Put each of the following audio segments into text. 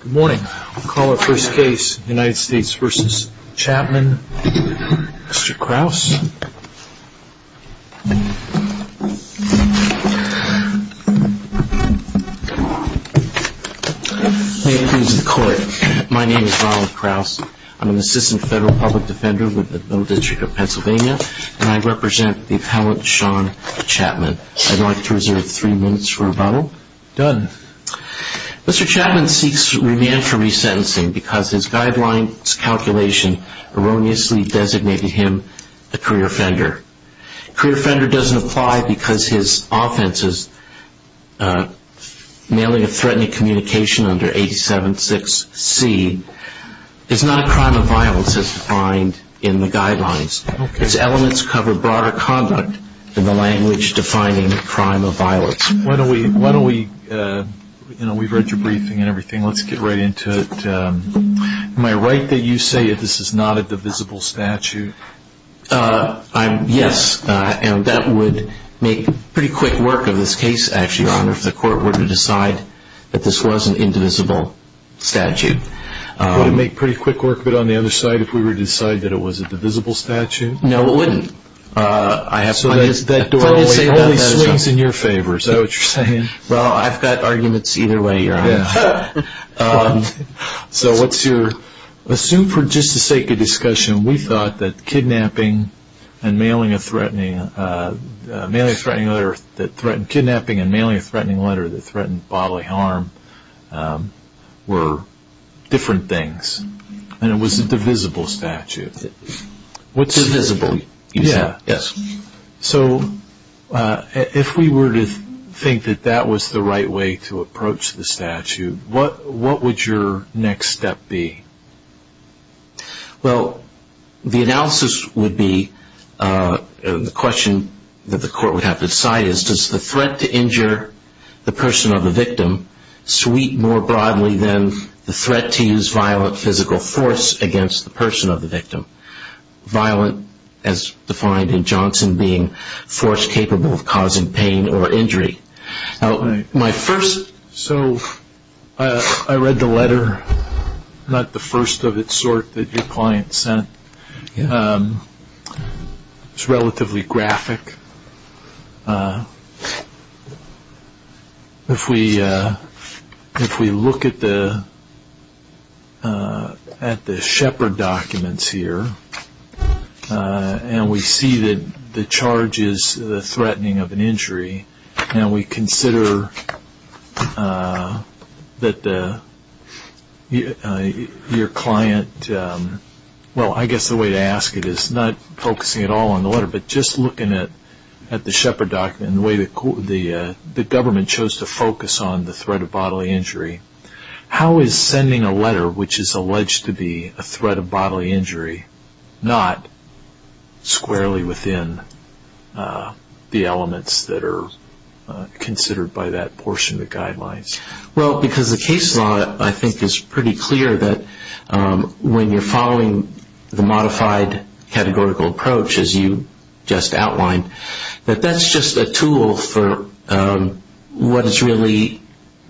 Good morning. I'll call our first case, United States v. Chapman. Mr. Kraus. May it please the court. My name is Ronald Kraus. I'm an assistant federal public defender with the Federal District of Pennsylvania, and I represent the appellant Sean Chapman. I'd like to reserve three minutes for rebuttal. Done. Mr. Chapman seeks remand for resentencing because his guidelines calculation erroneously designated him a career offender. A career offender doesn't apply because his offense is mailing a threatening communication under 87.6c. It's not a crime of violence as defined in the guidelines. Its elements cover broader conduct in the language defining a crime of violence. Why don't we, you know, we've read your briefing and everything. Let's get right into it. Am I right that you say that this is not a divisible statute? Yes, and that would make pretty quick work of this case, actually, Your Honor, if the court were to decide that this was an indivisible statute. Would it make pretty quick work of it on the other side if we were to decide that it was a divisible statute? No, it wouldn't. So that totally swings in your favor, is that what you're saying? Well, I've got arguments either way, Your Honor. Assume for just the sake of discussion, we thought that kidnapping and mailing a threatening letter that threatened bodily harm were different things, and it was a divisible statute. Divisible, you said? Yes. So if we were to think that that was the right way to approach the statute, what would your next step be? Well, the analysis would be, the question that the court would have to decide is, does the threat to injure the person or the victim sweep more broadly than the threat to use violent physical force against the person or the victim? Violent, as defined in Johnson, being force capable of causing pain or injury. My first, so I read the letter, not the first of its sort that your client sent. It's relatively graphic. If we look at the Shepard documents here, and we see that the charge is the threatening of an injury, and we consider that your client, well, I guess the way to ask it is not focusing at all on the letter, but just looking at the Shepard document and the way the government chose to focus on the threat of bodily injury. How is sending a letter, which is alleged to be a threat of bodily injury, not squarely within the elements that are considered by that portion of the guidelines? Well, because the case law, I think, is pretty clear that when you're following the modified categorical approach, as you just outlined, that that's just a tool for what is really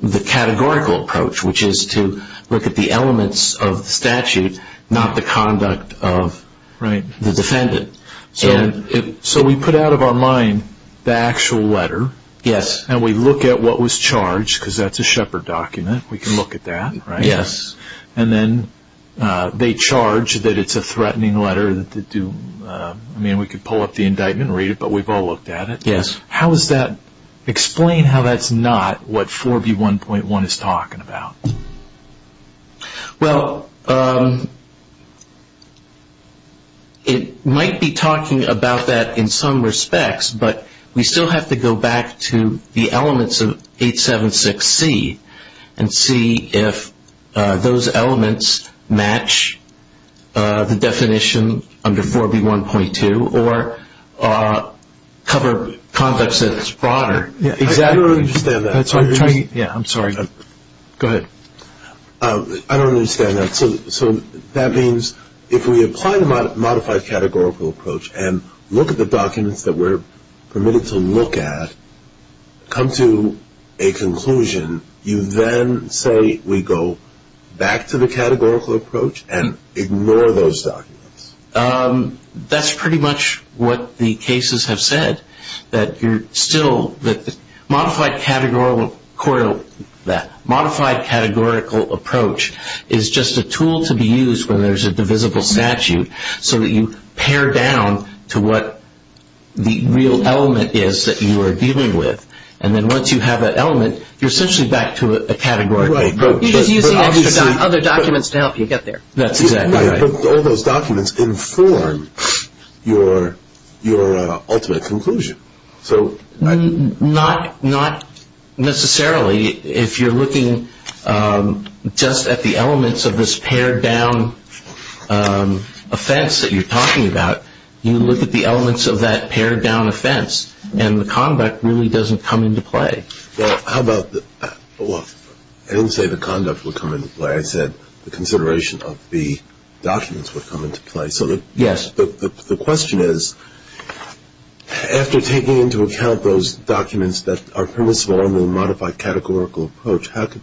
the categorical approach, which is to look at the elements of statute, not the conduct of the defendant. So we put out of our mind the actual letter. Yes. And we look at what was charged, because that's a Shepard document. We can look at that. Yes. And then they charge that it's a threatening letter. I mean, we could pull up the indictment and read it, but we've all looked at it. Yes. Explain how that's not what 4B1.1 is talking about. Well, it might be talking about that in some respects, but we still have to go back to the elements of 876C and see if those elements match the definition under 4B1.2 or cover conducts that is broader. I don't understand that. I'm sorry. Go ahead. I don't understand that. So that means if we apply the modified categorical approach and look at the documents that we're permitted to look at, come to a conclusion, you then say we go back to the categorical approach and ignore those documents? That's pretty much what the cases have said, that you're still the – that modified categorical approach is just a tool to be used when there's a divisible statute so that you pare down to what the real element is that you are dealing with. And then once you have that element, you're essentially back to a categorical approach. You're just using other documents to help you get there. That's exactly right. But all those documents inform your ultimate conclusion. Not necessarily. If you're looking just at the elements of this pared-down offense that you're talking about, you look at the elements of that pared-down offense, and the conduct really doesn't come into play. Well, how about – well, I didn't say the conduct would come into play. I said the consideration of the documents would come into play. Yes. The question is, after taking into account those documents that are permissible under the modified categorical approach, how do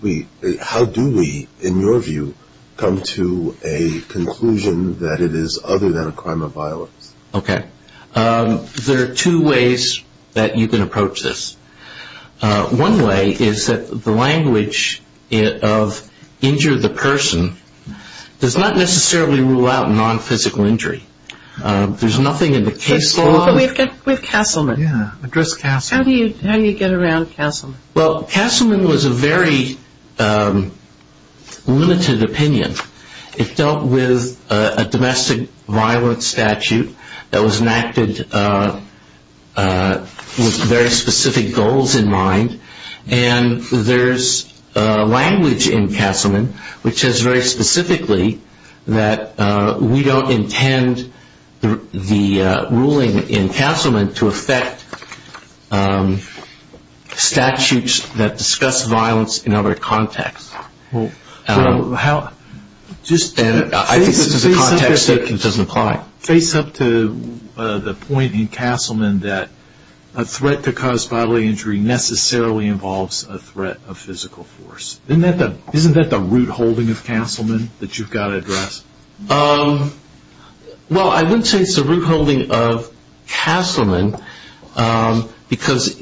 we, in your view, come to a conclusion that it is other than a crime of violence? Okay. There are two ways that you can approach this. One way is that the language of injure the person does not necessarily rule out non-physical injury. There's nothing in the case law – But we've got – with Castleman. Yeah, address Castleman. How do you get around Castleman? Well, Castleman was a very limited opinion. It dealt with a domestic violence statute that was enacted with very specific goals in mind, and there's language in Castleman which says very specifically that we don't intend the ruling in Castleman to affect statutes that discuss violence in other contexts. Well, how – I think this is a context that doesn't apply. Face up to the point in Castleman that a threat to cause bodily injury necessarily involves a threat of physical force. Isn't that the root holding of Castleman that you've got to address? Well, I wouldn't say it's the root holding of Castleman because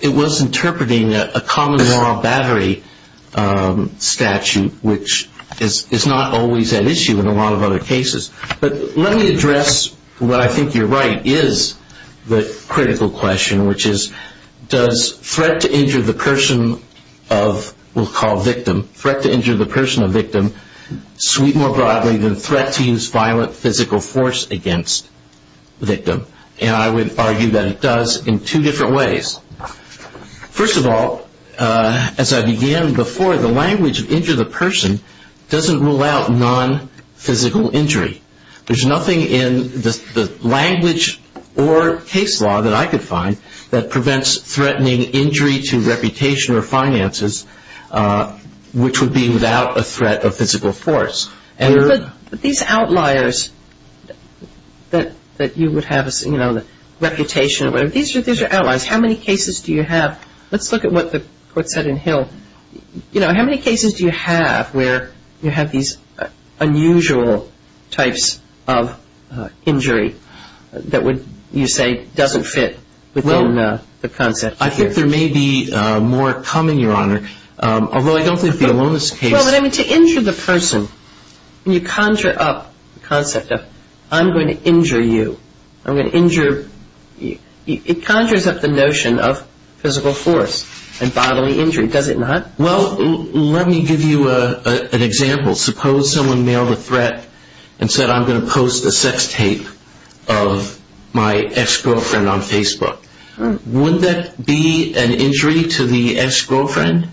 it was interpreting a common law battery statute, which is not always an issue in a lot of other cases. But let me address what I think you're right is the critical question, which is does threat to injure the person of – we'll call victim – sweep more broadly than threat to use violent physical force against victim? And I would argue that it does in two different ways. First of all, as I began before, the language of injure the person doesn't rule out non-physical injury. There's nothing in the language or case law that I could find that prevents threatening injury to reputation or finances, which would be without a threat of physical force. But these outliers that you would have, you know, reputation, these are outliers. How many cases do you have – let's look at what the court said in Hill. You know, how many cases do you have where you have these unusual types of injury that would you say doesn't fit within the concept? I think there may be more coming, Your Honor, although I don't think the aloneness case – Well, but I mean to injure the person, you conjure up the concept of I'm going to injure you. I'm going to injure – it conjures up the notion of physical force and bodily injury, does it not? Well, let me give you an example. Suppose someone mailed a threat and said I'm going to post a sex tape of my ex-girlfriend on Facebook. Would that be an injury to the ex-girlfriend?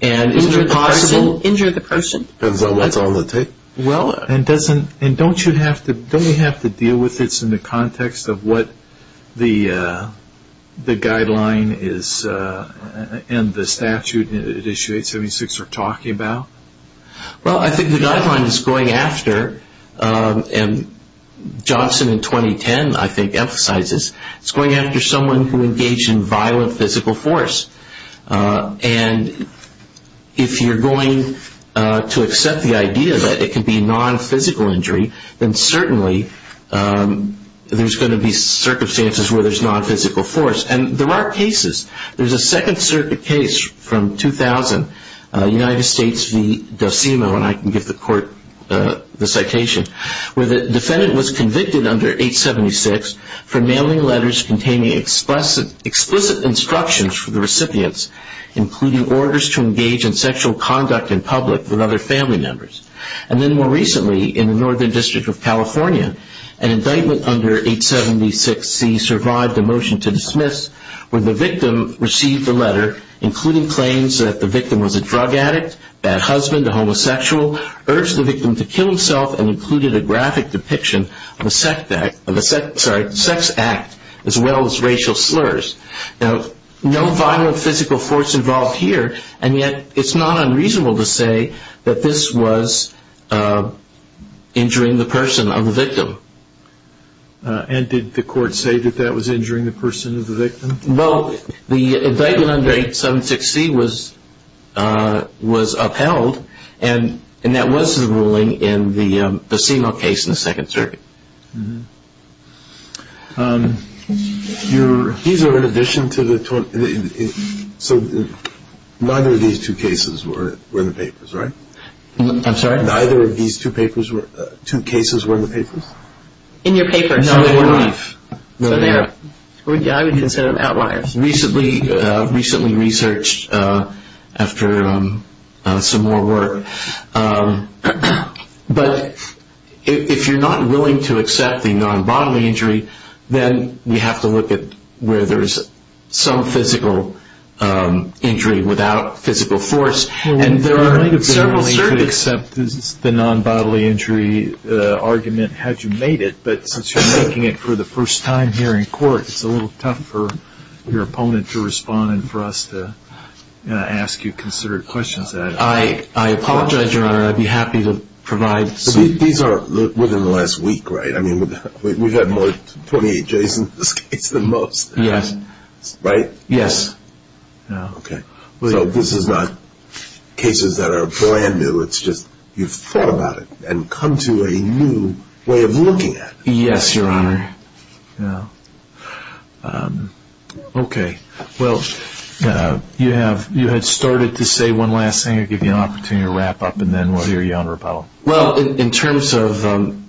And is it possible – Injure the person. Because that's all the tape. Well, and doesn't – and don't you have to deal with this in the context of what the guideline is and the statute at issue 876 are talking about? Well, I think the guideline is going after – and Johnson in 2010, I think, emphasizes it's going after someone who engaged in violent physical force. And if you're going to accept the idea that it can be non-physical injury, then certainly there's going to be circumstances where there's non-physical force. And there are cases. There's a Second Circuit case from 2000, United States v. Dosimo, and I can give the court the citation, where the defendant was convicted under 876 for mailing letters containing explicit instructions for the recipients, including orders to engage in sexual conduct in public with other family members. And then more recently, in the Northern District of California, an indictment under 876C survived a motion to dismiss where the victim received a letter including claims that the victim was a drug addict, bad husband, a homosexual, urged the victim to kill himself, and included a graphic depiction of a sex act as well as racial slurs. Now, no violent physical force involved here, and yet it's not unreasonable to say that this was injuring the person of the victim. And did the court say that that was injuring the person of the victim? Well, the indictment under 876C was upheld, and that was the ruling in the Dosimo case in the Second Circuit. These are in addition to the – so neither of these two cases were in the papers, right? I'm sorry? Neither of these two cases were in the papers? In your papers, no. So they're – yeah, I would consider them outliers. Recently researched after some more work. But if you're not willing to accept the non-bodily injury, then we have to look at where there's some physical injury without physical force. And there are – I mean, you could accept the non-bodily injury argument had you made it, but since you're making it for the first time here in court, it's a little tough for your opponent to respond and for us to ask you considered questions. I apologize, Your Honor. I'd be happy to provide some – These are within the last week, right? I mean, we've had more 28 days in this case than most. Yes. Right? Yes. Okay. So this is not cases that are brand new. It's just you've thought about it and come to a new way of looking at it. Yes, Your Honor. Okay. Well, you had started to say one last thing. I'll give you an opportunity to wrap up, and then we'll hear you on rebuttal. Well, in terms of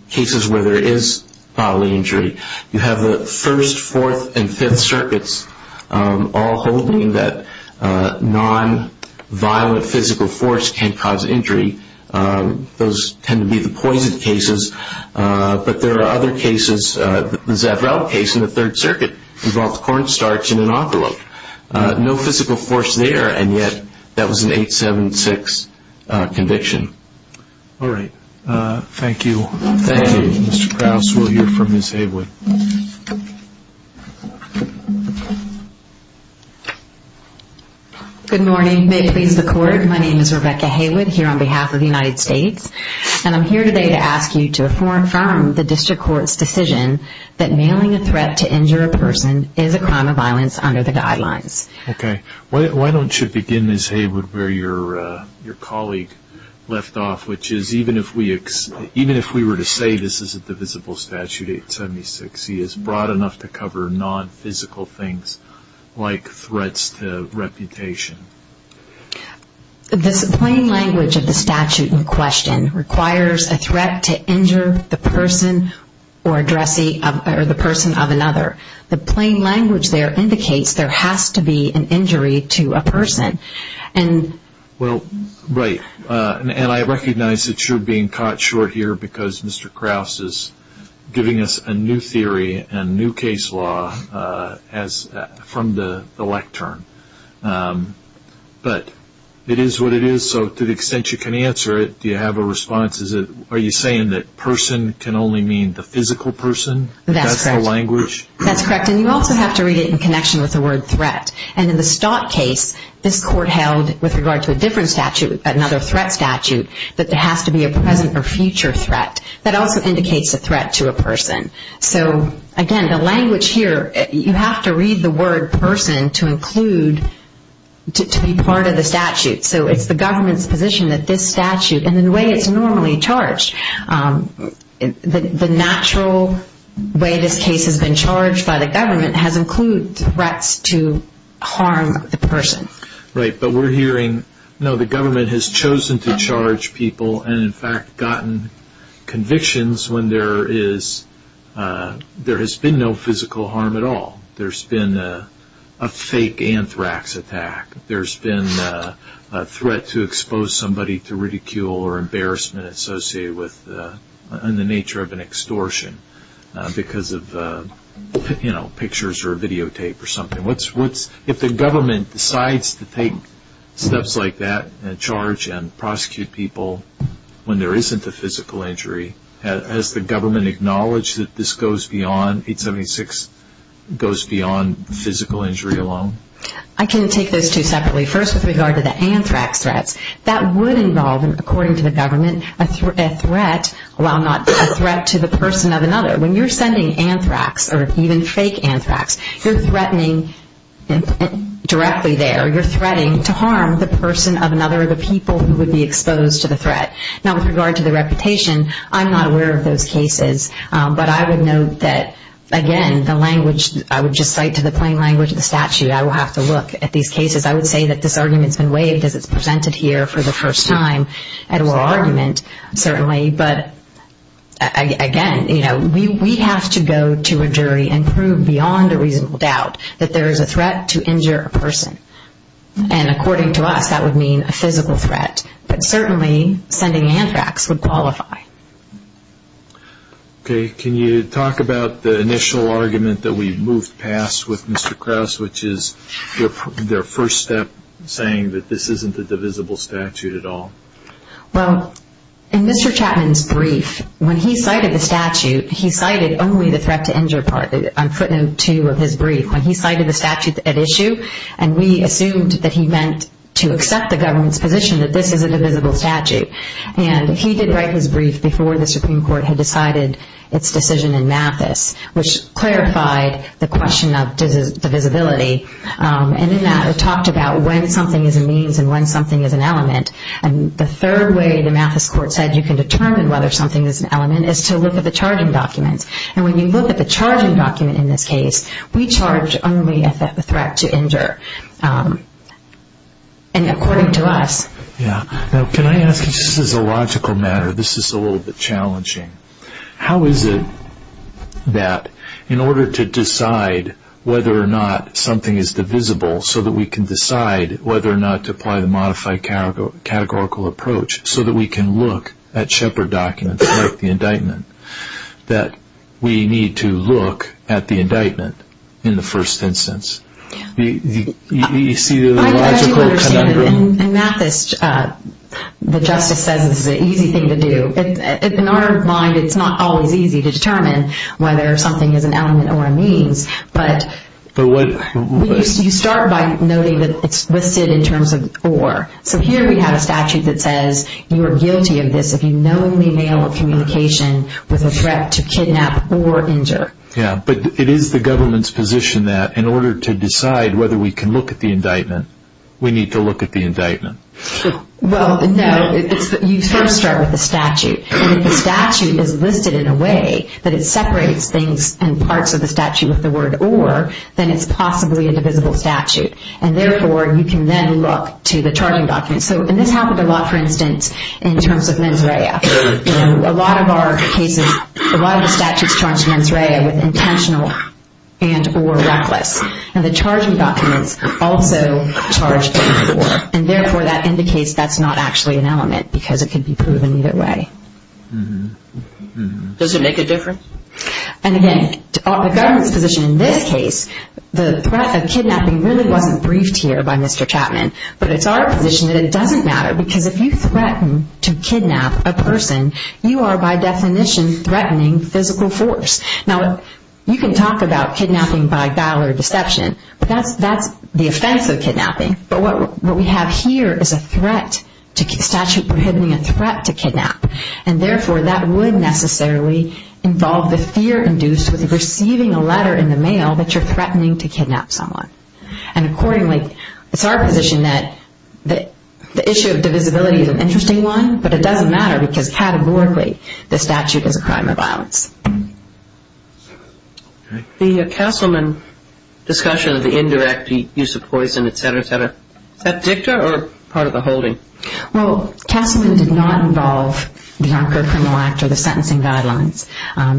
cases where there is bodily injury, you have the First, Fourth, and Fifth Circuits all holding that non-violent physical force can cause injury. Those tend to be the poison cases. But there are other cases, the Zavrel case in the Third Circuit involved cornstarch in an envelope. No physical force there, and yet that was an 876 conviction. All right. Thank you. Thank you. Thank you, Mr. Krause. We'll hear from Ms. Haywood. Good morning. May it please the Court, my name is Rebecca Haywood here on behalf of the United States, and I'm here today to ask you to affirm the district court's decision that mailing a threat to injure a person is a crime of violence under the guidelines. Okay. Why don't you begin, Ms. Haywood, where your colleague left off, which is even if we were to say this isn't the visible statute, 876, he is broad enough to cover non-physical things like threats to reputation. The plain language of the statute in question requires a threat to injure the person or the person of another. The plain language there indicates there has to be an injury to a person. Well, right, and I recognize that you're being caught short here because Mr. Krause is giving us a new theory and new case law from the lectern, but it is what it is. So to the extent you can answer it, do you have a response? Are you saying that person can only mean the physical person? That's correct. And you also have to read it in connection with the word threat. And in the Stott case, this court held with regard to a different statute, another threat statute, that there has to be a present or future threat. That also indicates a threat to a person. So, again, the language here, you have to read the word person to include, to be part of the statute. So it's the government's position that this statute, and the way it's normally charged, the natural way this case has been charged by the government has included threats to harm the person. Right, but we're hearing, no, the government has chosen to charge people and, in fact, gotten convictions when there has been no physical harm at all. There's been a fake anthrax attack. There's been a threat to expose somebody to ridicule or embarrassment associated with the nature of an extortion because of, you know, pictures or videotape or something. If the government decides to take steps like that, and charge and prosecute people when there isn't a physical injury, has the government acknowledged that this goes beyond, 876, goes beyond physical injury alone? I can take those two separately. First, with regard to the anthrax threats, that would involve, according to the government, a threat to the person of another. When you're sending anthrax or even fake anthrax, you're threatening directly there. You're threatening to harm the person of another or the people who would be exposed to the threat. Now, with regard to the reputation, I'm not aware of those cases, but I would note that, again, the language, I would just cite to the plain language of the statute, I will have to look at these cases. I would say that this argument's been waived as it's presented here for the first time. It will argument, certainly, but, again, you know, we have to go to a jury and prove beyond a reasonable doubt that there is a threat to injure a person. And according to us, that would mean a physical threat. But certainly, sending anthrax would qualify. Okay. Can you talk about the initial argument that we moved past with Mr. Krauss, which is their first step saying that this isn't a divisible statute at all? Well, in Mr. Chapman's brief, when he cited the statute, he cited only the threat to injure part, footnote two of his brief. When he cited the statute at issue, and we assumed that he meant to accept the government's position that this is a divisible statute. And he did write his brief before the Supreme Court had decided its decision in Mathis, which clarified the question of divisibility. And in that, it talked about when something is a means and when something is an element. And the third way the Mathis court said you can determine whether something is an element is to look at the charging documents. And when you look at the charging document in this case, we charge only a threat to injure. And according to us. Yeah. Now, can I ask you, just as a logical matter, this is a little bit challenging. How is it that in order to decide whether or not something is divisible so that we can decide whether or not to apply the modified categorical approach so that we can look at Shepherd documents like the indictment, that we need to look at the indictment in the first instance? I do understand that in Mathis, the justice says it's an easy thing to do. In our mind, it's not always easy to determine whether something is an element or a means. But you start by noting that it's listed in terms of or. So here we have a statute that says you are guilty of this if you knowingly mail a communication with a threat to kidnap or injure. Yeah. But it is the government's position that in order to decide whether we can look at the indictment, we need to look at the indictment. Well, no. You first start with the statute. And if the statute is listed in a way that it separates things and parts of the statute with the word or, then it's possibly a divisible statute. And therefore, you can then look to the charging documents. And this happened a lot, for instance, in terms of mens rea. A lot of our cases, a lot of the statutes charge mens rea with intentional and or reckless. And the charging documents also charge or. And therefore, that indicates that's not actually an element because it can be proven either way. Does it make a difference? And again, the government's position in this case, the threat of kidnapping really wasn't briefed here by Mr. Chapman. But it's our position that it doesn't matter because if you threaten to kidnap a person, you are by definition threatening physical force. Now, you can talk about kidnapping by guile or deception, but that's the offense of kidnapping. But what we have here is a threat to statute prohibiting a threat to kidnap. And therefore, that would necessarily involve the fear induced with receiving a letter in the mail that you're threatening to kidnap someone. And accordingly, it's our position that the issue of divisibility is an interesting one, but it doesn't matter because categorically, the statute is a crime or violence. The Castleman discussion of the indirect use of poison, et cetera, et cetera, is that dicta or part of the holding? Well, Castleman did not involve the Anchor Criminal Act or the sentencing guidelines.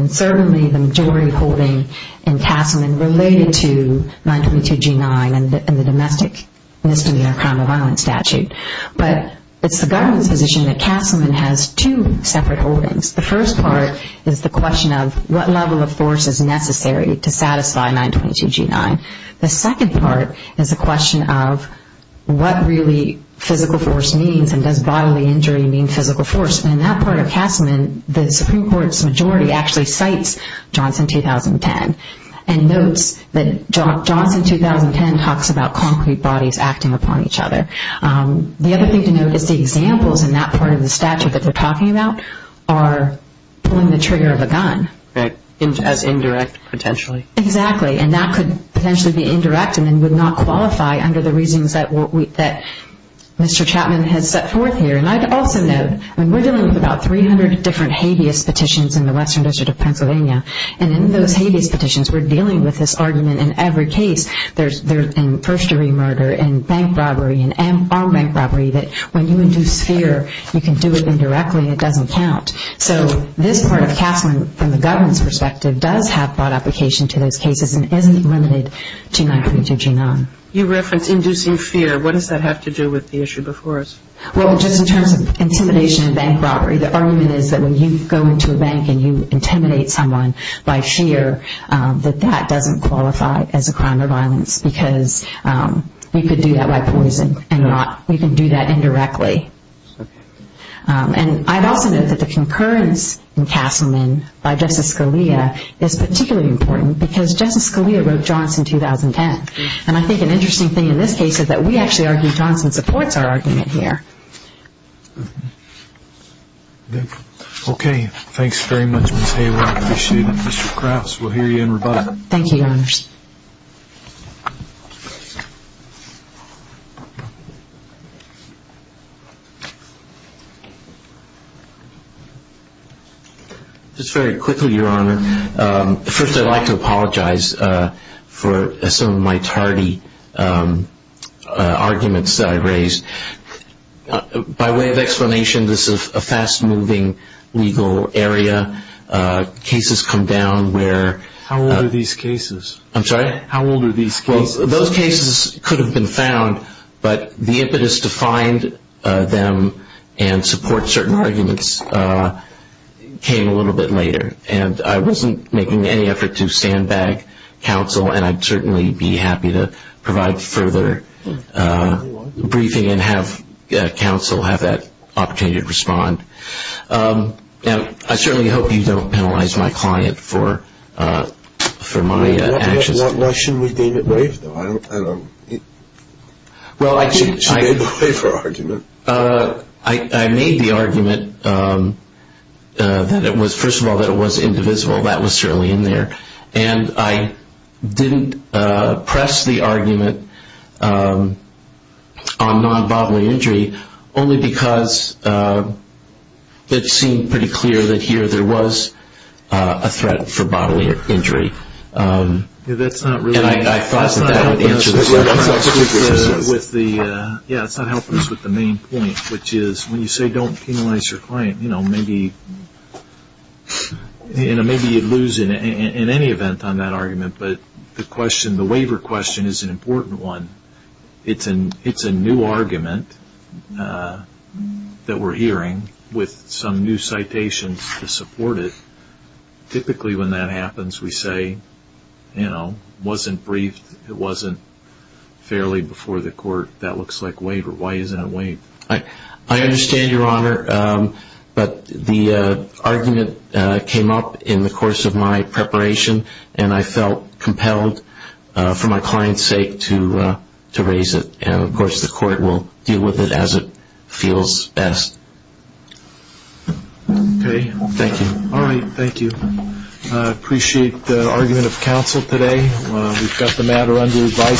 Certainly, the majority holding in Castleman related to 922G9 and the domestic misdemeanor crime or violence statute. But it's the government's position that Castleman has two separate holdings. The first part is the question of what level of force is necessary to satisfy 922G9. The second part is the question of what really physical force means and does bodily injury mean physical force. In that part of Castleman, the Supreme Court's majority actually cites Johnson 2010 and notes that Johnson 2010 talks about concrete bodies acting upon each other. The other thing to note is the examples in that part of the statute that we're talking about are pulling the trigger of a gun. As indirect, potentially. Exactly. And that could potentially be indirect and then would not qualify under the reasons that Mr. Chapman has set forth here. And I'd also note, we're dealing with about 300 different habeas petitions in the Western District of Pennsylvania. And in those habeas petitions, we're dealing with this argument in every case. There's first-degree murder and bank robbery and armed bank robbery that when you induce fear, you can do it indirectly. It doesn't count. So this part of Castleman from the government's perspective does have broad application to those cases and isn't limited to 922G9. You referenced inducing fear. What does that have to do with the issue before us? Well, just in terms of intimidation and bank robbery, the argument is that when you go into a bank and you intimidate someone by fear, that that doesn't qualify as a crime of violence because we could do that by poison and not. We can do that indirectly. And I'd also note that the concurrence in Castleman by Justice Scalia is particularly important because Justice Scalia wrote Johnson 2010. And I think an interesting thing in this case is that we actually argue that Johnson supports our argument here. Okay. Thanks very much, Ms. Hayward. I appreciate it. Mr. Crafts, we'll hear you in rebuttal. Thank you, Your Honors. Just very quickly, Your Honor, first I'd like to apologize for some of my tardy arguments that I raised. By way of explanation, this is a fast-moving legal area. Cases come down where – How old are these cases? I'm sorry? How old are these cases? Those cases could have been found, but the impetus to find them and support certain arguments came a little bit later. And I wasn't making any effort to sandbag counsel, and I'd certainly be happy to provide further briefing and have counsel have that opportunity to respond. Now, I certainly hope you don't penalize my client for my actions. Why shouldn't we deem it brave, though? I don't – Well, I – She made the waiver argument. I made the argument that it was – first of all, that it was indivisible. That was certainly in there. And I didn't press the argument on non-bodily injury only because it seemed pretty clear that here there was a threat for bodily injury. That's not really – And I thought that that would answer the question. Yeah, it's not helping us with the main point, which is when you say don't penalize your client, you know, maybe – and maybe you'd lose in any event on that argument, but the waiver question is an important one. It's a new argument that we're hearing with some new citations to support it. Typically when that happens, we say, you know, wasn't briefed. It wasn't fairly before the court. That looks like waiver. Why isn't it waiver? I understand, Your Honor, but the argument came up in the course of my preparation, and I felt compelled for my client's sake to raise it. And, of course, the court will deal with it as it feels best. Okay. Thank you. All right. Thank you. I appreciate the argument of counsel today. We've got the matter under advice.